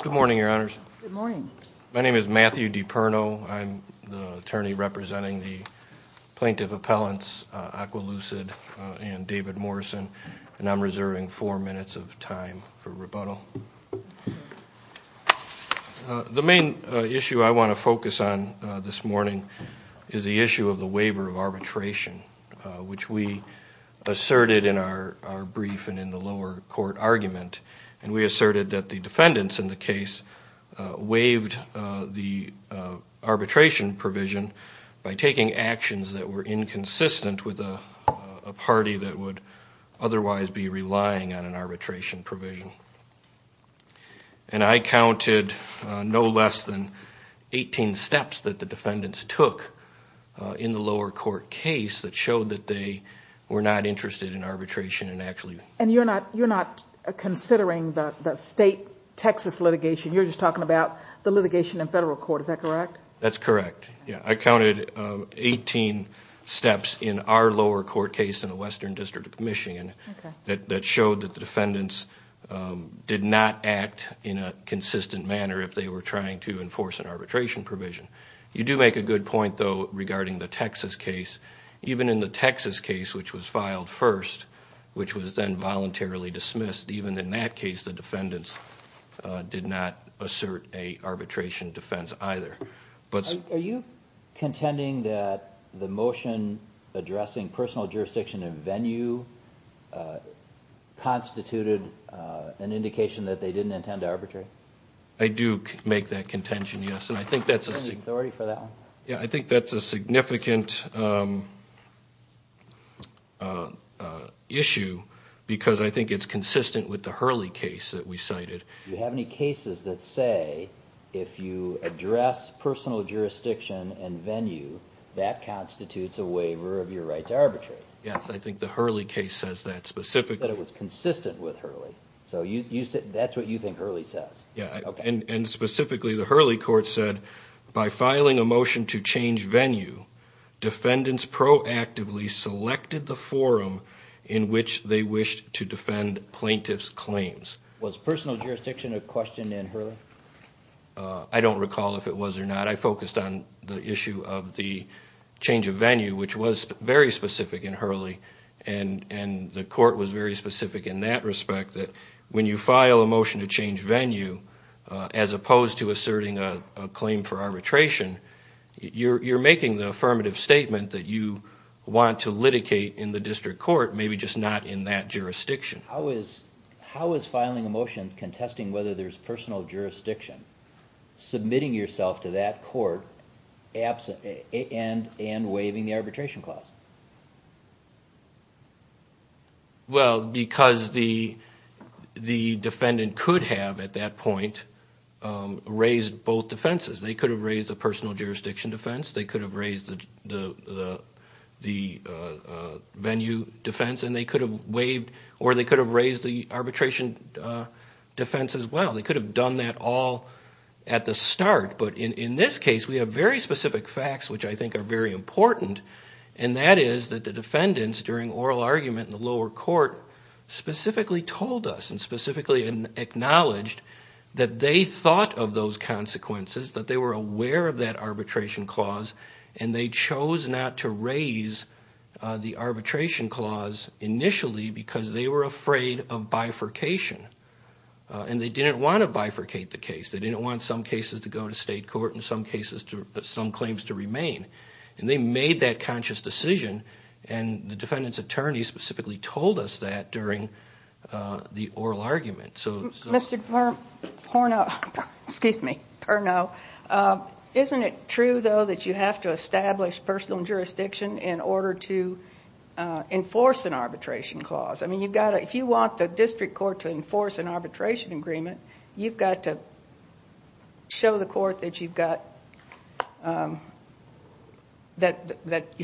Good morning your honors. Good morning. My name is Matthew DiPerno. I'm the attorney for Zetalucid and David Morrison and I'm reserving 4 minutes of time for rebuttal. The main issue I want to focus on this morning is the issue of the waiver of arbitration which we asserted in our brief and in the lower court argument and we asserted that the defendants in the that would otherwise be relying on an arbitration provision. And I counted no less than 18 steps that the defendants took in the lower court case that showed that they were not interested in arbitration. And you're not considering the state Texas litigation, you're just talking about the litigation in federal court, is that correct? That's correct. I counted 18 in our lower court case in the Western District of Michigan that showed that the defendants did not act in a consistent manner if they were trying to enforce an arbitration provision. You do make a good point though regarding the Texas case. Even in the Texas case, which was filed first, which was then voluntarily dismissed, even in that case the defendants did not assert a arbitration defense either. Are you contending that the motion addressing personal jurisdiction in venue constituted an indication that they didn't intend to arbitrate? I do make that contention, yes. I think that's a significant issue because I think it's consistent with the Hurley case that we cited. Do you have any cases that say if you address personal jurisdiction in venue that constitutes a waiver of your right to arbitrate? Yes, I think the Hurley case says that specifically. That it was consistent with Hurley? So that's what you think Hurley says? Yes, and specifically the Hurley court said, by filing a motion to change venue, defendants proactively selected the forum in which they wished to defend plaintiff's claims. Was personal jurisdiction a question in Hurley? I don't recall if it was or not. I focused on the issue of the change of venue, which was very specific in Hurley. The court was very specific in that respect that when you file a motion to change venue, as opposed to asserting a claim for arbitration, you're making the affirmative statement that you want to litigate in the district court, maybe just not in that jurisdiction. How is filing a motion contesting whether there's personal jurisdiction, submitting yourself to that court and waiving the arbitration clause? Well, because the defendant could have, at that point, raised both defenses. They could have raised the personal jurisdiction defense. They could have raised the venue defense, and they could have waived, or they could have raised the arbitration defense as well. They could have done that all at the start. But in this case, we have very specific facts, which I think are very important, and that is that the defendants, during oral argument in the lower court, specifically told us and specifically acknowledged that they thought of those consequences, that they were aware of that arbitration clause, and they chose not to raise the arbitration clause initially because they were afraid of bifurcation. And they didn't want to bifurcate the case. They didn't want some cases to go to state court and some claims to remain. And they made that conscious decision, and the defendant's attorney specifically told us that during the oral argument. Isn't it true, though, that you have to establish personal jurisdiction in order to enforce an arbitration clause? I mean, if you want the district court to enforce an arbitration agreement, you've got to show the court that you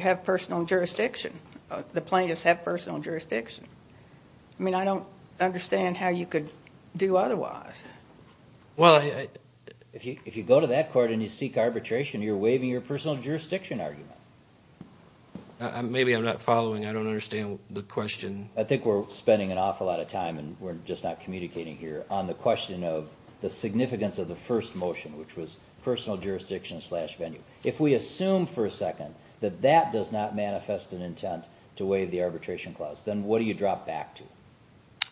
have personal jurisdiction. The plaintiffs have personal jurisdiction. I mean, I don't understand how you could do otherwise. Well, I... If you go to that court and you seek arbitration, you're waiving your personal jurisdiction argument. Maybe I'm not following. I don't understand the question. I think we're spending an awful lot of time, and we're just not communicating here, on the question of the significance of the first motion, which was personal jurisdiction slash venue. If we assume for a second that that does not manifest an intent to waive the arbitration clause, then what do you drop back to?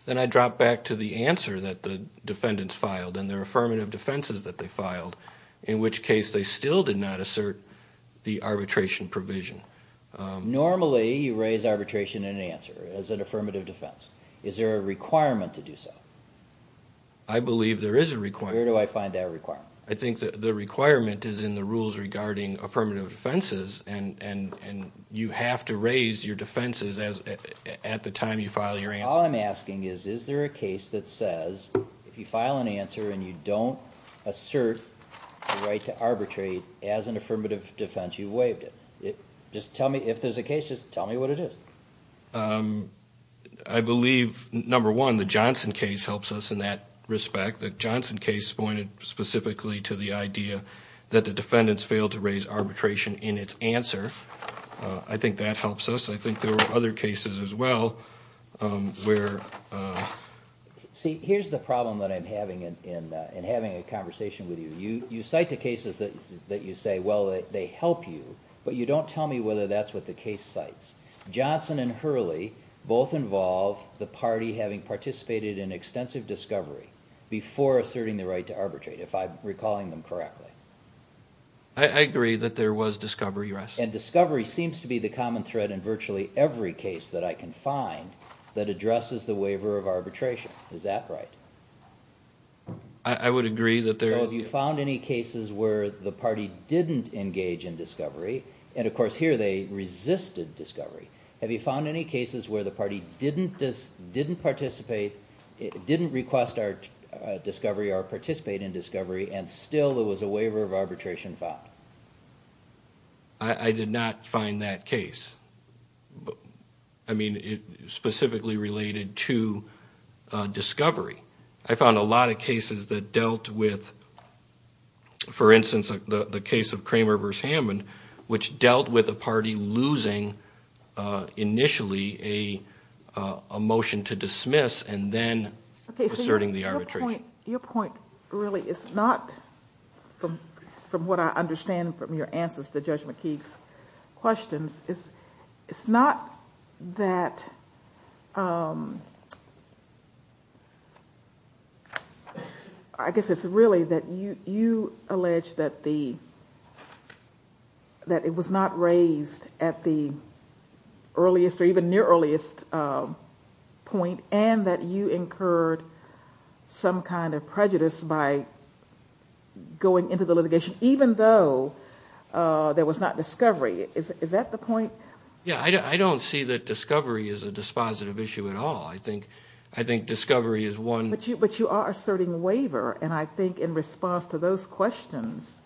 Then I drop back to the answer that the defendants filed and their affirmative defenses that they filed, in which case they still did not assert the arbitration provision. Normally, you raise arbitration in an answer as an affirmative defense. Is there a requirement to do so? I believe there is a requirement. Where do I find that requirement? I think that the requirement is in the rules regarding affirmative defenses, and you have to raise your defenses at the time you file your answer. All I'm asking is, is there a case that says, if you file an answer and you don't assert the right to arbitrate as an affirmative defense, you waived it. If there's a case, just tell me what it is. I believe, number one, the Johnson case helps us in that respect. The Johnson case pointed specifically to the idea that the defendants failed to raise arbitration in its answer. I think that helps us. I think there were other cases as well where... See, here's the problem that I'm having in having a conversation with you. You cite the cases that you say, well, they help you, but you don't tell me whether that's what the case cites. Johnson and Hurley both involve the party having participated in extensive discovery before asserting the right to arbitrate, if I'm recalling them correctly. I agree that there was discovery, yes. Discovery seems to be the common thread in virtually every case that I can find that addresses the waiver of arbitration. Is that right? I would agree that there... Have you found any cases where the party didn't engage in discovery? Of course, here they request our discovery or participate in discovery, and still there was a waiver of arbitration found. I did not find that case. I mean, specifically related to discovery. I found a lot of cases that dealt with, for instance, the case of Kramer v. Hammond, which dealt with a party losing, initially, a motion to dismiss, and then asserting the arbitration. Your point, really, is not, from what I understand from your answers to Judge McKeague's questions, it's not that, I guess it's really that you allege that the, that it was not raised at the earliest or even near earliest point, and that you incurred some kind of prejudice by going into the litigation, even though there was not discovery. Is that the point? Yeah, I don't see that discovery is a dispositive issue at all. I think discovery is one... But you are asserting waiver, and I think in response to those questions,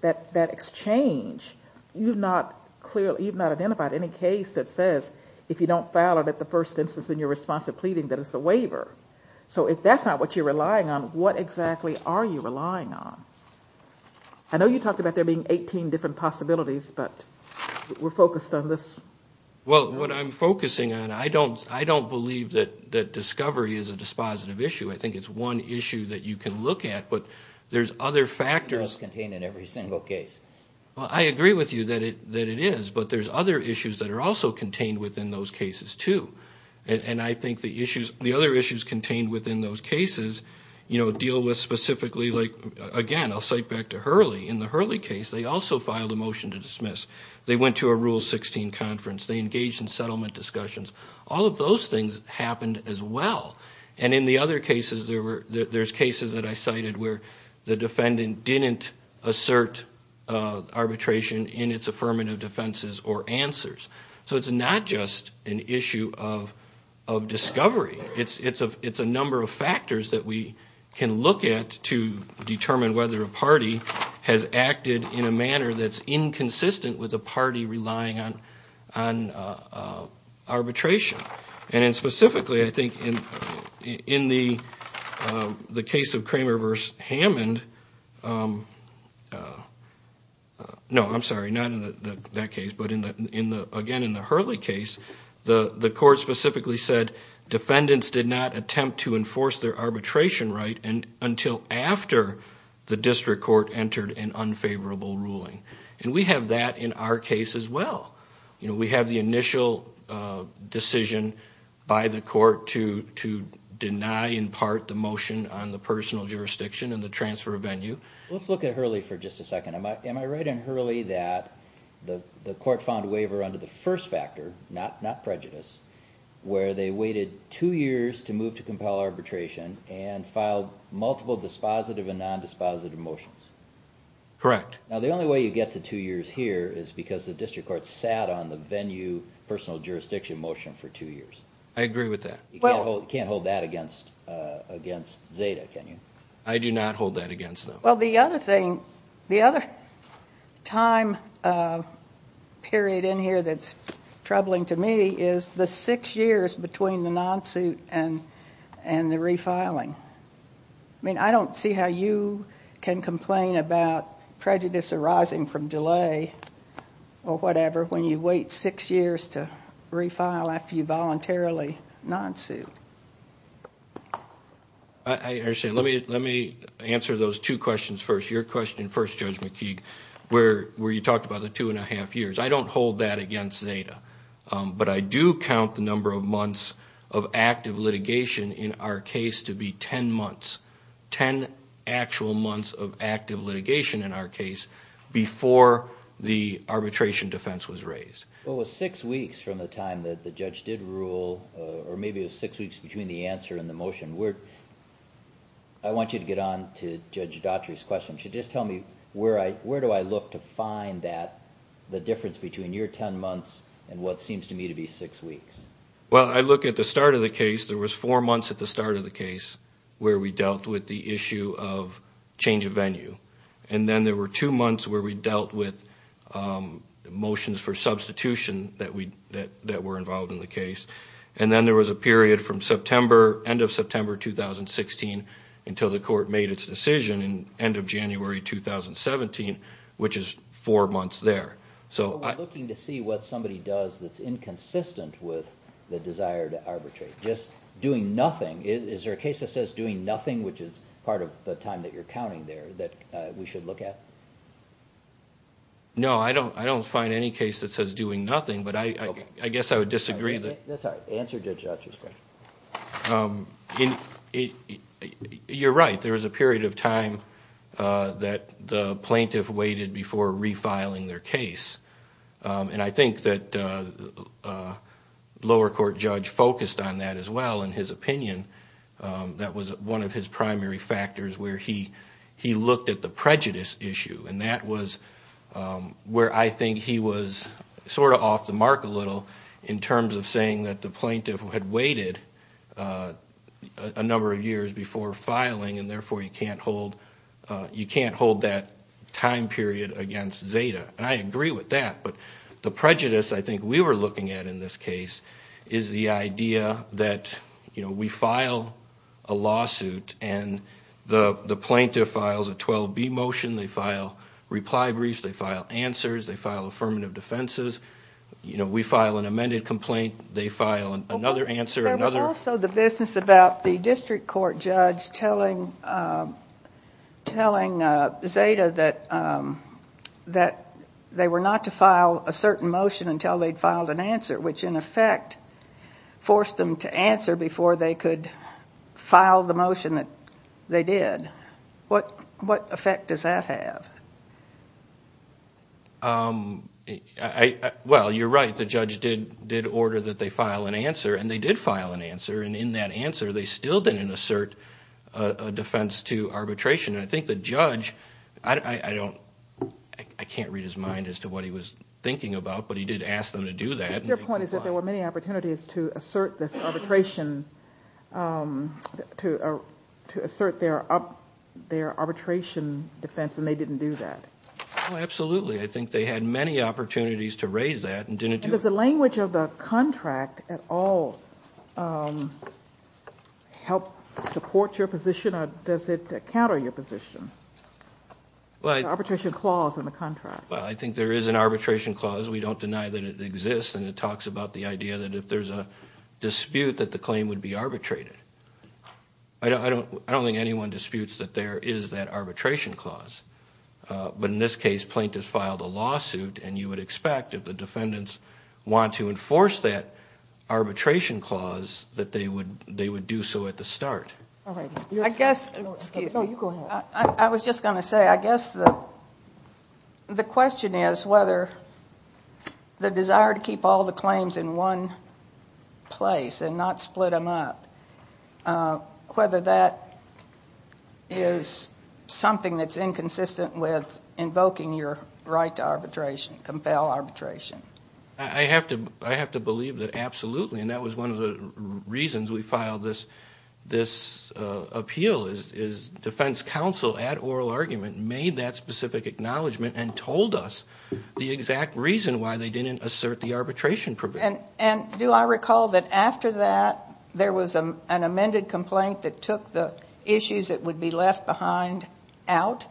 that exchange, you've not identified any case that says, if you don't file it at the first instance in your response to pleading, that it's a waiver. So if that's not what you're relying on, what exactly are you relying on? I know you talked about there being 18 different possibilities, but we're focused on this. Well, what I'm focusing on, I don't believe that discovery is a dispositive issue. I think it's one issue that you can look at, but there's other factors... It's not contained in every single case. Well, I agree with you that it is, but there's other issues that are also contained within those cases, too. And I think the other issues contained within those cases deal with specifically... Again, I'll cite back to Hurley. In the Hurley case, they also filed a motion to dismiss. They went to a Rule 16 conference. They engaged in settlement discussions. All of those things happened as well. And in the other cases, there's cases that I cited where the defendant didn't assert arbitration in its affirmative defenses or answers. So it's not just an issue of discovery. It's a number of factors that we can look at to determine whether a party has acted in a manner that's inconsistent with a party relying on arbitration. And specifically, I think in the case of Kramer v. Hammond... No, I'm sorry, not in that case, but again in the Hurley case, the court specifically said defendants did not attempt to enforce their arbitration right until after the district court entered an unfavorable ruling. And we have that in our case as well. We have the initial decision by the court to deny in part the motion on the personal jurisdiction and the transfer of venue. Let's look at Hurley for just a second. Am I right in Hurley that the court found a waiver under the first factor, not prejudice, where they waited two years to move to compel arbitration and filed multiple dispositive and nondispositive motions? Correct. Now the only way you get to two years here is because the district court sat on the venue personal jurisdiction motion for two years. I agree with that. You can't hold that against Zeta, can you? I do not hold that against them. Well the other thing, the other time period in here that's troubling to me is the six years between the non-suit and the refiling. I mean, I don't see how you can complain about prejudice arising from delay or whatever when you wait six years to refile after you voluntarily non-suit. I understand. Let me answer those two questions first. Your question first, Judge McKeague, where you talked about the two and a half years. I don't hold that against Zeta. But I do count the number of months of active litigation in our case to be ten months, ten actual months of active litigation in our case before the arbitration defense was raised. Well it was six weeks from the time that the judge did rule, or maybe it was six weeks between the answer and the motion. I want you to get on to Judge Dautry's question. Just tell me, where do I look to find that, the difference between your ten months and what seems to me to be six weeks? Well I look at the start of the case. There was four months at the start of the case where we dealt with the issue of change of venue. And then there were two months where we dealt with motions for substitution that were involved in the case. And then there was a period from September, end of September 2016, until the court made its decision in end of January 2017, which is four months there. So I'm looking to see what somebody does that's inconsistent with the desire to arbitrate. Just doing nothing. Is there a case that says doing nothing, which is part of the time that you're counting there, that we should look at? No, I don't find any case that says doing nothing, but I guess I would disagree. You're right, there was a period of time that the plaintiff waited before refiling their case, and I agree with that as well. In his opinion, that was one of his primary factors where he looked at the prejudice issue. And that was where I think he was sort of off the mark a little in terms of saying that the plaintiff had waited a number of years before filing and therefore you can't hold that time period against Zeta. And I agree with that, but the prejudice I think we were looking at in this case is the idea that we file a lawsuit and the plaintiff files a 12-B motion, they file reply briefs, they file answers, they file affirmative defenses. We file an amended complaint, they file another answer. There was also the business about the district court judge telling Zeta that they were not to file a certain motion until they'd filed an answer, which in effect forced them to answer before they could file the motion that they did. What effect does that have? Well you're right, the judge did order that they file an answer, and they did file an answer, and in that answer they still didn't assert a defense to arbitration. I think the point he was thinking about, but he did ask them to do that. But your point is that there were many opportunities to assert this arbitration, to assert their arbitration defense and they didn't do that. Oh absolutely, I think they had many opportunities to raise that and didn't do it. And does the language of the contract at all help support your position or does it counter your position? The arbitration clause in the contract. Well I think there is an arbitration clause, we don't deny that it exists, and it talks about the idea that if there's a dispute that the claim would be arbitrated. I don't think anyone disputes that there is that arbitration clause. But in this case, plaintiffs filed a lawsuit and you would expect if the defendants want to enforce that arbitration clause that they would do so at the start. I was just going to say, I guess the question is whether the desire to keep all the claims in one place and not split them up, whether that is something that's inconsistent with invoking your right to arbitration, compel arbitration. I have to believe that absolutely, and that was one of the reasons we filed this appeal, is defense counsel at oral argument made that specific acknowledgment and told us the exact reason why they didn't assert the arbitration provision. And do I recall that after that there was an amended complaint that took the issues that would be left behind out?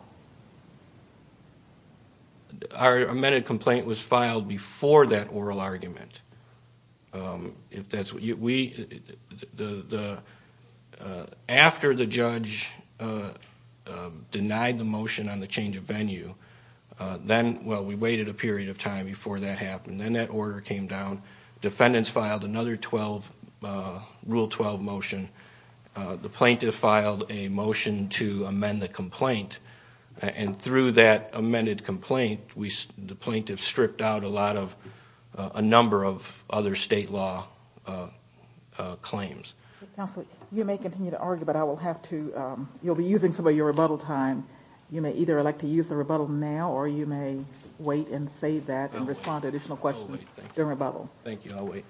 Our amended complaint was filed before that oral argument. After the judge denied the motion on the change of venue, we waited a period of time before that happened, then that order came down, defendants filed another Rule 12 motion, the plaintiff filed a motion to amend the complaint, and through that amended complaint, the plaintiff stripped out a number of other state law claims. You may continue to argue, but you'll be using some of your rebuttal time. You may either elect to use the rebuttal now or you may wait and save that and respond to additional questions during rebuttal. Thank you, I'll wait.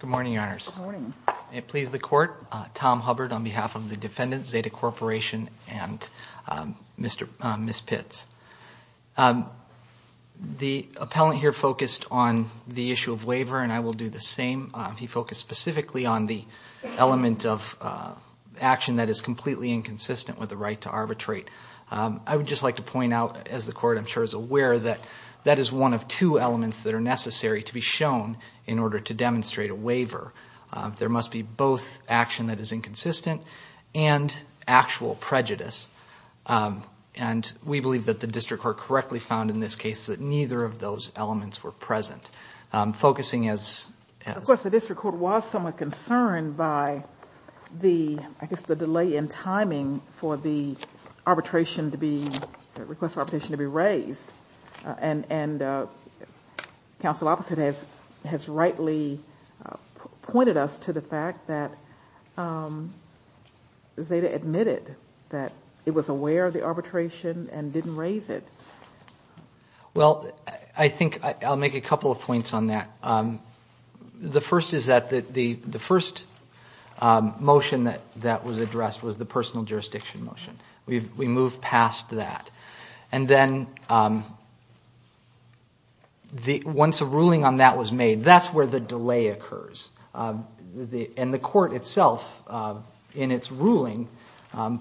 Good morning, Your Honors. May it please the Court, Tom Hubbard on behalf of the defendants, Zeta Corporation and Ms. Pitts. The appellant here focused on the issue of waiver, and I will do the same. He focused specifically on the element of action that is completely inconsistent with the right to arbitrate. I would just like to point out, as the Court I'm sure is aware, that that is one of two elements that are necessary to be shown in order to demonstrate a waiver. There must be both action that is inconsistent and actual prejudice, and we believe that the District Court correctly found in this case that neither of those elements were present. Focusing as... Of course, the District Court was somewhat concerned by the delay in timing for the request for arbitration to be raised, and counsel opposite has rightly pointed us to the fact that Zeta admitted that it was aware of the arbitration and didn't raise it. Well, I think I'll make a couple of points on that. The first is that the first motion that was addressed was the personal jurisdiction motion. We moved past that. And then once a ruling on that was made, that's where the delay occurs. And the Court itself in its ruling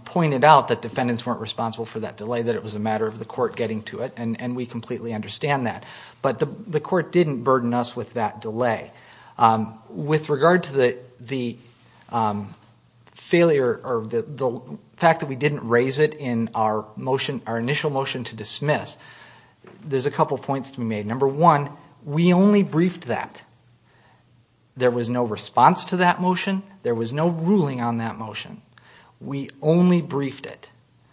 pointed out that defendants weren't responsible for that delay, that it was a matter of the Court getting to it, and we completely understand that. But the Court didn't burden us with that delay. With regard to the failure or the fact that we didn't raise it in our motion, our initial motion to dismiss, there's a couple of points to be made. Number one, we only briefed that. There was no response to that motion. There was no ruling on that motion. We only briefed it.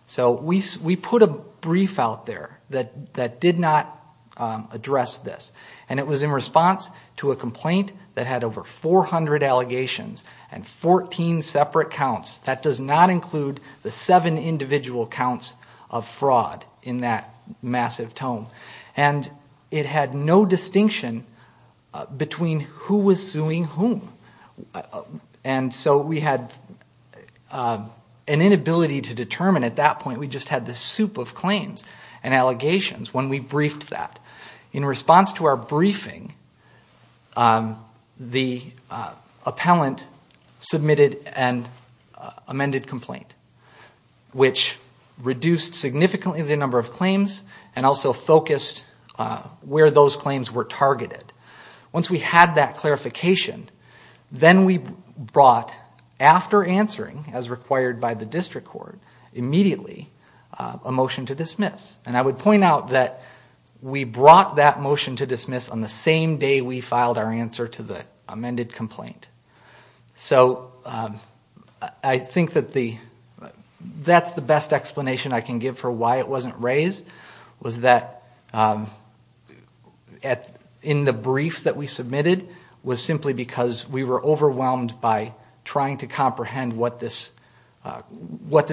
So we put a brief out there that did not address this, and it was in response to a complaint that had over 400 allegations and 14 separate counts. That does not include the seven individual counts of fraud in that massive tome. And it had no distinction between who was suing whom. And so we had an inability to determine at that point. We just had this soup of claims and allegations when we briefed that. In response to our briefing, the appellant submitted an amended complaint. And that was which reduced significantly the number of claims and also focused where those claims were targeted. Once we had that clarification, then we brought, after answering as required by the District Court, immediately a motion to dismiss. And I would point out that we brought that motion to dismiss on the same day we filed our answer to the amended complaint. So I think that's the best explanation I can give for why it wasn't raised, was that in the brief that we submitted was simply because we were overwhelmed by trying to comprehend what this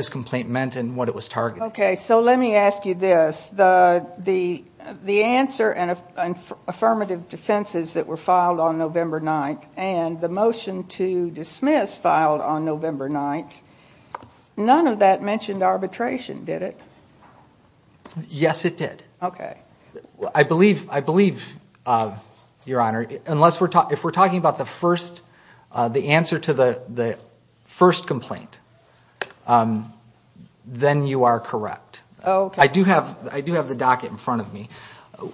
complaint meant and what it was targeting. Okay, so let me ask you this. The answer and affirmative defenses that were filed on November 9th and the motion to dismiss filed on November 9th, none of that mentioned arbitration, did it? Yes, it did. I believe, Your Honor, if we're talking about the answer to the first complaint, then you are correct. I do have the docket in front of me.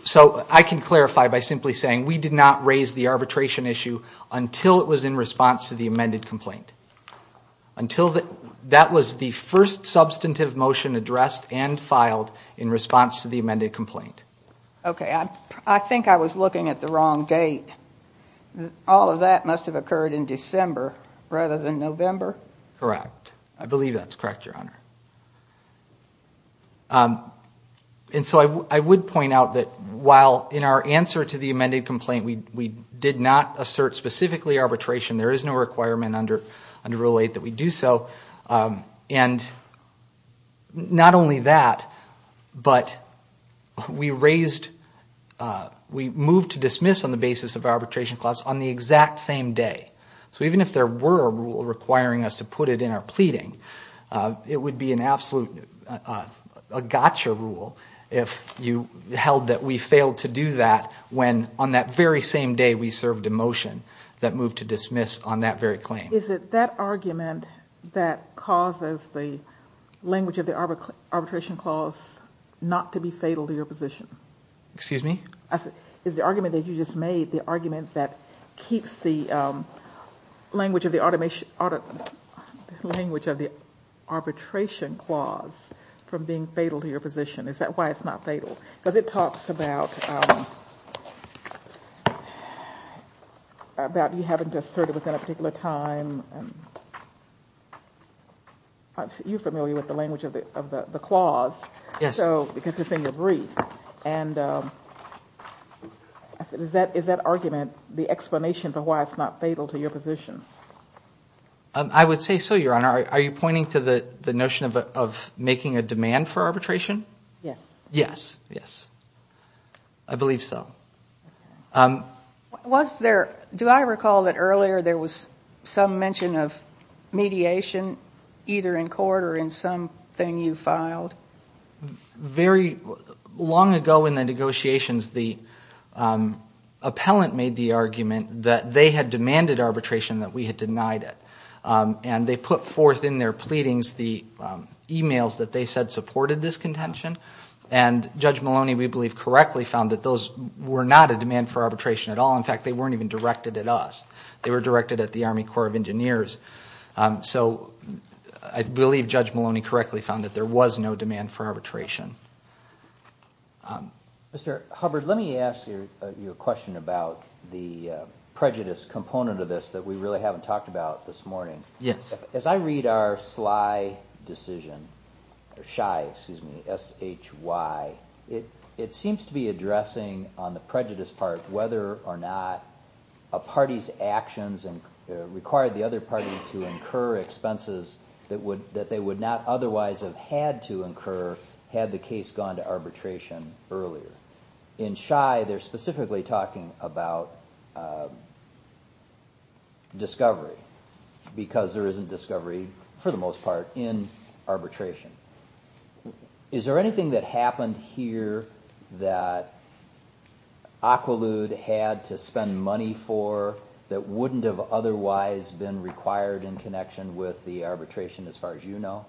So I can clarify by simply saying we did not raise the arbitration issue until it was in response to the amended complaint. Until that, that was the first substantive motion addressed and filed in response to the amended complaint. Okay, I think I was looking at the wrong date. All of that must have occurred in December rather than November. Correct. I believe that's correct, Your Honor. And so I would point out that while in our answer to the amended complaint, we did not assert specifically arbitration. There is no requirement under Rule 8 that we do so. And not only that, but we moved to dismiss on the basis of arbitration clause on the exact same day. So even if there were a rule requiring us to put it in our pleading, it would be an absolute gotcha rule if you held that we failed to do that when on that very same day we served a motion that moved to dismiss on that very claim. Is it that argument that causes the language of the arbitration clause not to be fatal to your position? Excuse me? Is the argument that you just made the argument that keeps the language of the arbitration clause from being fatal to your position, is that why it's not fatal? Because it talks about you having to assert it within a particular time. You're familiar with the language of the clause because it's in your brief. And is that argument the explanation for why it's not fatal to your position? I would say so, Your Honor. Are you pointing to the notion of making a demand for arbitration? Yes. Yes. Yes. I believe so. Do I recall that earlier there was some mention of mediation either in court or in something you filed? Very long ago in the negotiations, the appellant made the argument that they had demanded arbitration that we had denied it. And they put forth in their pleadings the emails that they said supported this contention. And Judge Maloney, we believe, correctly found that those were not a demand for arbitration at all. In fact, they weren't even directed at us. They were directed at the Army Corps of Engineers. So I believe Judge Maloney correctly found that there was no demand for arbitration. Mr. Hubbard, let me ask you a question about the prejudice component of this that we really haven't talked about this morning. Yes. As I read our S.H.Y. decision, it seems to be addressing on the prejudice part whether or not a party's actions required the other party to incur expenses that they would not otherwise have had to incur had the case gone to arbitration earlier. In S.H.Y., they're specifically talking about discovery because there isn't discovery, for the most part, in arbitration. Is there anything that happened here that Aqualude had to spend money for that wouldn't have otherwise been required in connection with the arbitration as far as you know?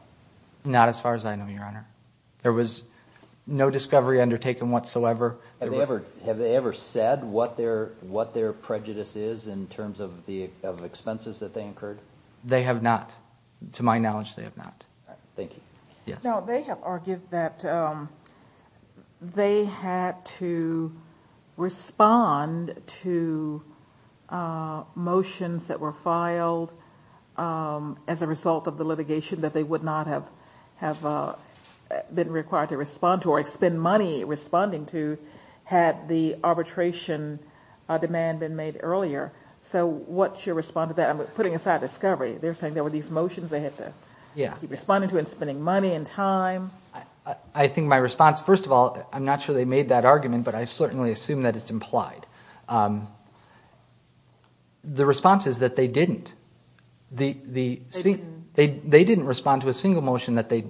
Not as far as I know, Your Honor. There was no discovery undertaken whatsoever. Have they ever said what their prejudice is in terms of the expenses that they incurred? They have not. To my knowledge, they have not. Thank you. No, they have argued that they had to respond to motions that were filed as a result of the litigation that they would not have been required to respond to or spend money responding to had the arbitration demand been made earlier. So what's your response to that? I'm putting aside discovery. They're saying there were these motions they had to keep responding to and spending money and time. I think my response, first of all, I'm not sure they made that argument, but I certainly assume that it's implied. The response is that they didn't. They didn't respond to a motion. They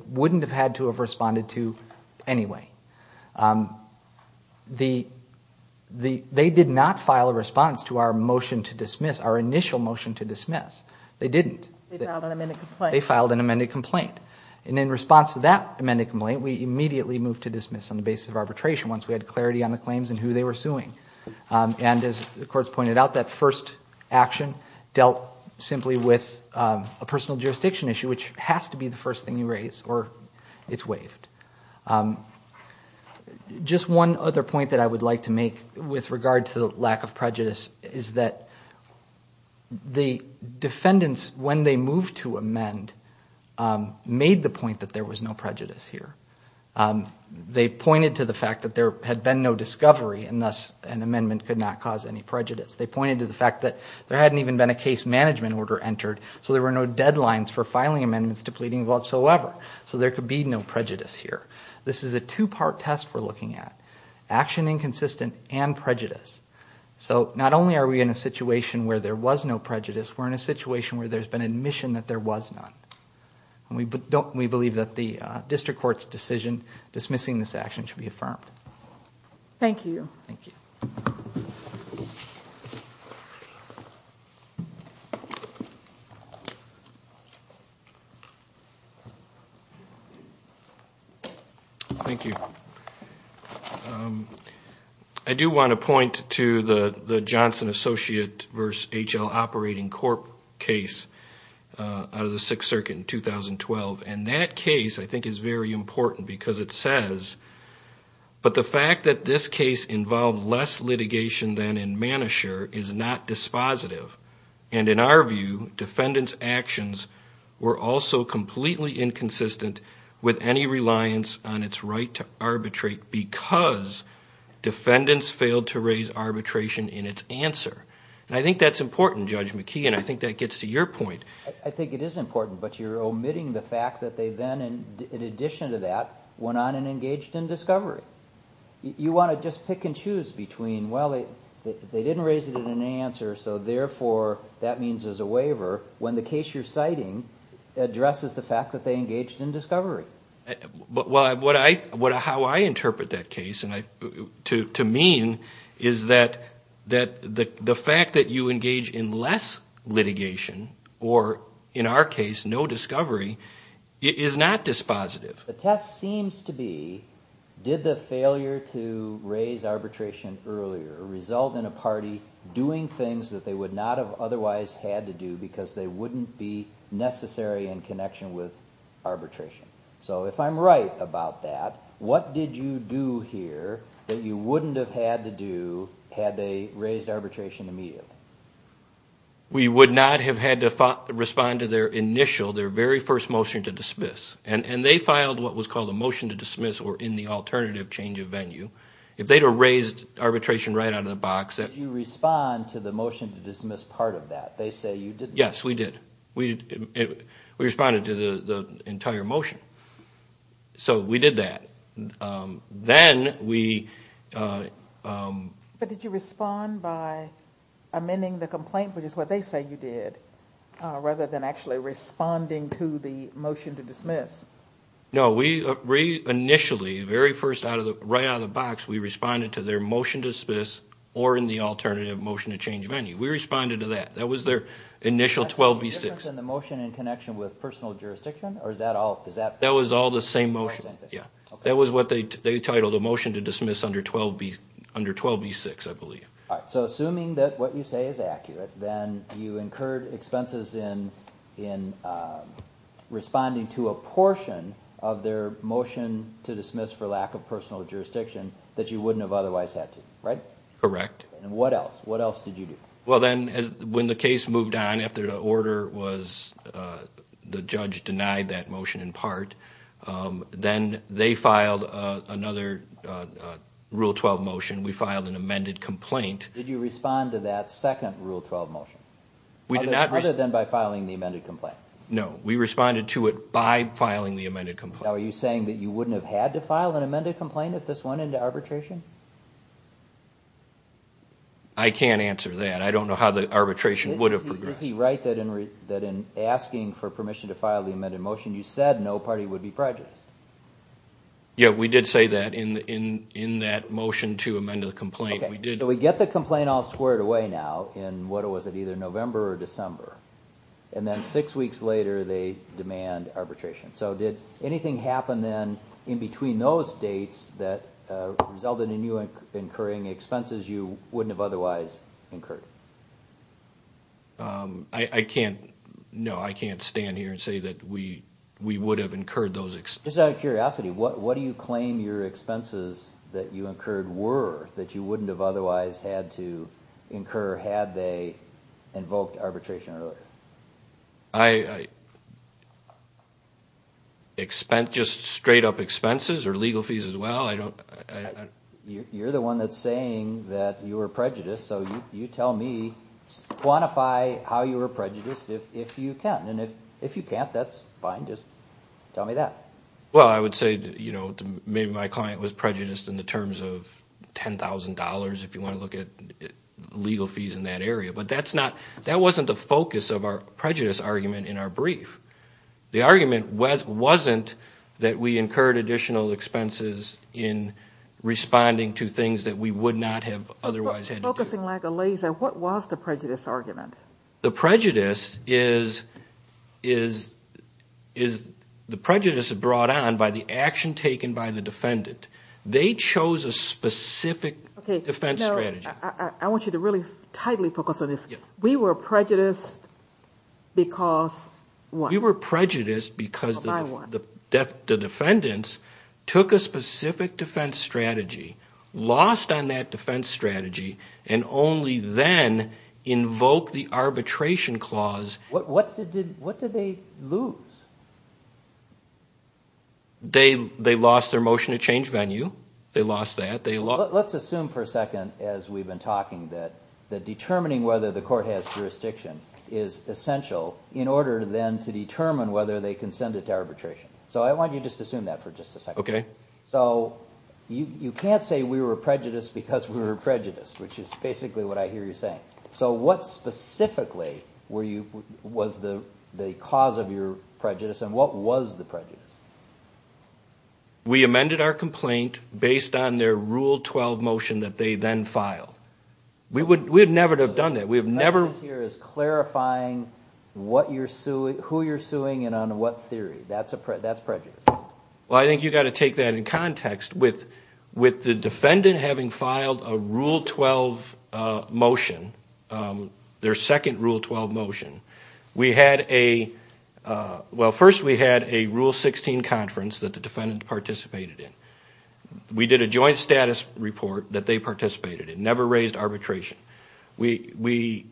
did not file a response to our motion to dismiss, our initial motion to dismiss. They didn't. They filed an amended complaint. They filed an amended complaint. And in response to that amended complaint, we immediately moved to dismiss on the basis of arbitration once we had clarity on the claims and who they were suing. And as the courts pointed out, that first action dealt simply with a personal jurisdiction issue, which has to be the first thing you raise or it's waived. Just one other point that I would like to make with regard to the lack of prejudice is that the defendants, when they moved to amend, made the point that there was no prejudice here. They pointed to the fact that there had been no discovery and thus an amendment could not cause any prejudice. They pointed to the fact that there hadn't even been a case management order entered, so there were no deadlines for filing amendments to pleading whatsoever. So there could be no prejudice here. This is a two-part test we're looking at, action inconsistent and prejudice. So not only are we in a situation where there was no prejudice, we're in a situation where there's been admission that there was none. We believe that the district court's decision dismissing this action should be affirmed. Thank you. I do want to point to the Johnson Associate v. H.L. Operating Corp. case out of the Sixth Circuit in 2012. And that case, I think, is very important because it says, but the fact that this case involved less litigation than in Manasher is not dispositive. And in our view, defendants' actions were also completely inconsistent with any reliance on its right to arbitrate because defendants failed to raise arbitration in its answer. And I think that's important, Judge McKee, and I think that gets to your point. I think it is important, but you're omitting the fact that they then, in addition to that, went on and engaged in discovery. You want to just pick and choose between, well, they didn't raise it in an answer, so therefore that means there's a waiver, when the case you're citing addresses the fact that they engaged in discovery. How I interpret that case, to me, is that the fact that you engage in less litigation, or in our case, no discovery, is not dispositive. The test seems to be, did the failure to raise arbitration earlier result in a party doing things that they would not have otherwise had to do because they wouldn't be necessary in connection with arbitration? So if I'm right about that, what did you do here that you wouldn't have had to do had they raised arbitration immediately? We would not have had to respond to their initial, their very first motion to dismiss. And they filed what was called a motion to dismiss, or in the alternative change of venue. If they'd have raised arbitration right out of the box, that... Did you respond to the motion to dismiss part of that? They say you didn't. Yes, we did. We responded to the entire motion. So we did that. Then we... But did you respond by amending the complaint, which is what they say you did, rather than actually responding to the motion to dismiss? No, we initially, very first, right out of the box, we responded to their motion to dismiss, or in the alternative motion to change venue. We responded to that. That was their initial 12B6. That's the difference in the motion in connection with personal jurisdiction, or is that all... That was all the same motion. That was what they titled a motion to dismiss under 12B6, I believe. All right, so assuming that what you say is accurate, then you incurred expenses in responding to a portion of their motion to dismiss for lack of personal jurisdiction that you wouldn't have otherwise had to, right? Correct. And what else? What else did you do? Well then, when the case moved on, after the order was... The judge denied that motion in part, then they filed another Rule 12 motion. We filed an amended complaint. Did you respond to that second Rule 12 motion? Other than by filing the amended complaint? No, we responded to it by filing the amended complaint. Now, are you saying that you wouldn't have had to file an amended complaint if this went into arbitration? I can't answer that. I don't know how the arbitration would have progressed. Is he right that in asking for permission to file the amended motion, you said no party would be prejudiced? Yeah, we did say that in that motion to amend the complaint. Okay, so we get the complaint all squared away now in, what was it, either November or December, and then six weeks later they demand arbitration. So did anything happen then in between those dates that resulted in you incurring expenses you wouldn't have otherwise incurred? I can't... No, I can't stand here and say that we would have incurred those expenses. Just out of curiosity, what do you claim your client would have otherwise had to incur had they invoked arbitration earlier? Just straight up expenses or legal fees as well? You're the one that's saying that you were prejudiced, so you tell me, quantify how you were prejudiced if you can. And if you can't, that's fine, just tell me that. Well, I would say maybe my client was prejudiced in the terms of $10,000 if you want to look at legal fees in that area. But that wasn't the focus of our prejudice argument in our brief. The argument wasn't that we incurred additional expenses in responding to things that we would not have otherwise had to do. Focusing like a laser, what was the prejudice argument? The prejudice is brought on by the action taken by the defendant. They chose a specific defense strategy. I want you to really tightly focus on this. We were prejudiced because of what? We were prejudiced because the defendants took a specific defense strategy, lost on that defense strategy, and only then invoked the arbitration clause. What did they lose? They lost their motion to change venue. They lost that. Let's assume for a second as we've been talking that determining whether the court has jurisdiction is essential in order then to determine whether they can send it to arbitration. So I want you to just assume that for just a second. Okay. So you can't say we were prejudiced because we were prejudiced, which is basically what I hear you saying. So what specifically was the cause of your prejudice and what was the prejudice? We amended our complaint based on their Rule 12 motion that they then filed. We would never have done that. The prejudice here is clarifying who you're suing and on what theory. That's prejudice. Well, I think you've got to take that in context. With the defendant having filed a Rule 12 motion, their second Rule 12 motion, first we had a Rule 16 conference that the defendant participated in. We did a joint status report that they participated in, never raised arbitration. The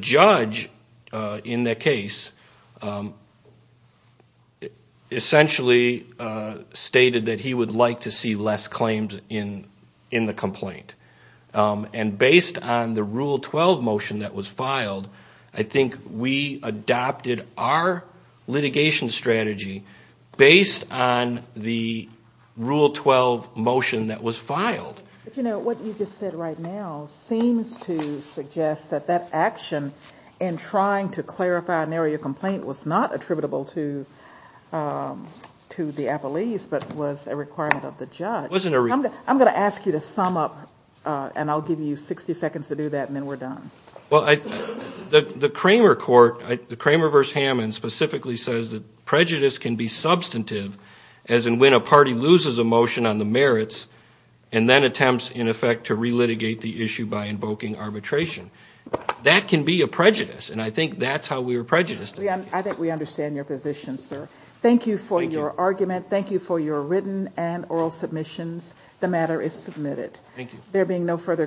judge in that case essentially stated that he would like to see less claims in the complaint. And based on the Rule 12 motion that was filed, I think we adopted our litigation strategy based on the Rule 12 motion that was filed. But you know, what you just said right now seems to suggest that that action in trying to clarify and narrow your complaint was not attributable to the appellees but was a requirement of the judge. I'm going to ask you to sum up and I'll give you 60 seconds to do that and then we're done. The Kramer Court, the Kramer v. Hammond, specifically says that prejudice can be substantive as in when a party loses a motion on the merits and then attempts, in effect, to re-litigate the issue by invoking arbitration. That can be a prejudice and I think that's how we were prejudiced. I think we understand your position, sir. Thank you for your argument. Thank you for your written and oral submissions. The matter is submitted. There being no further questions, we will adjourn.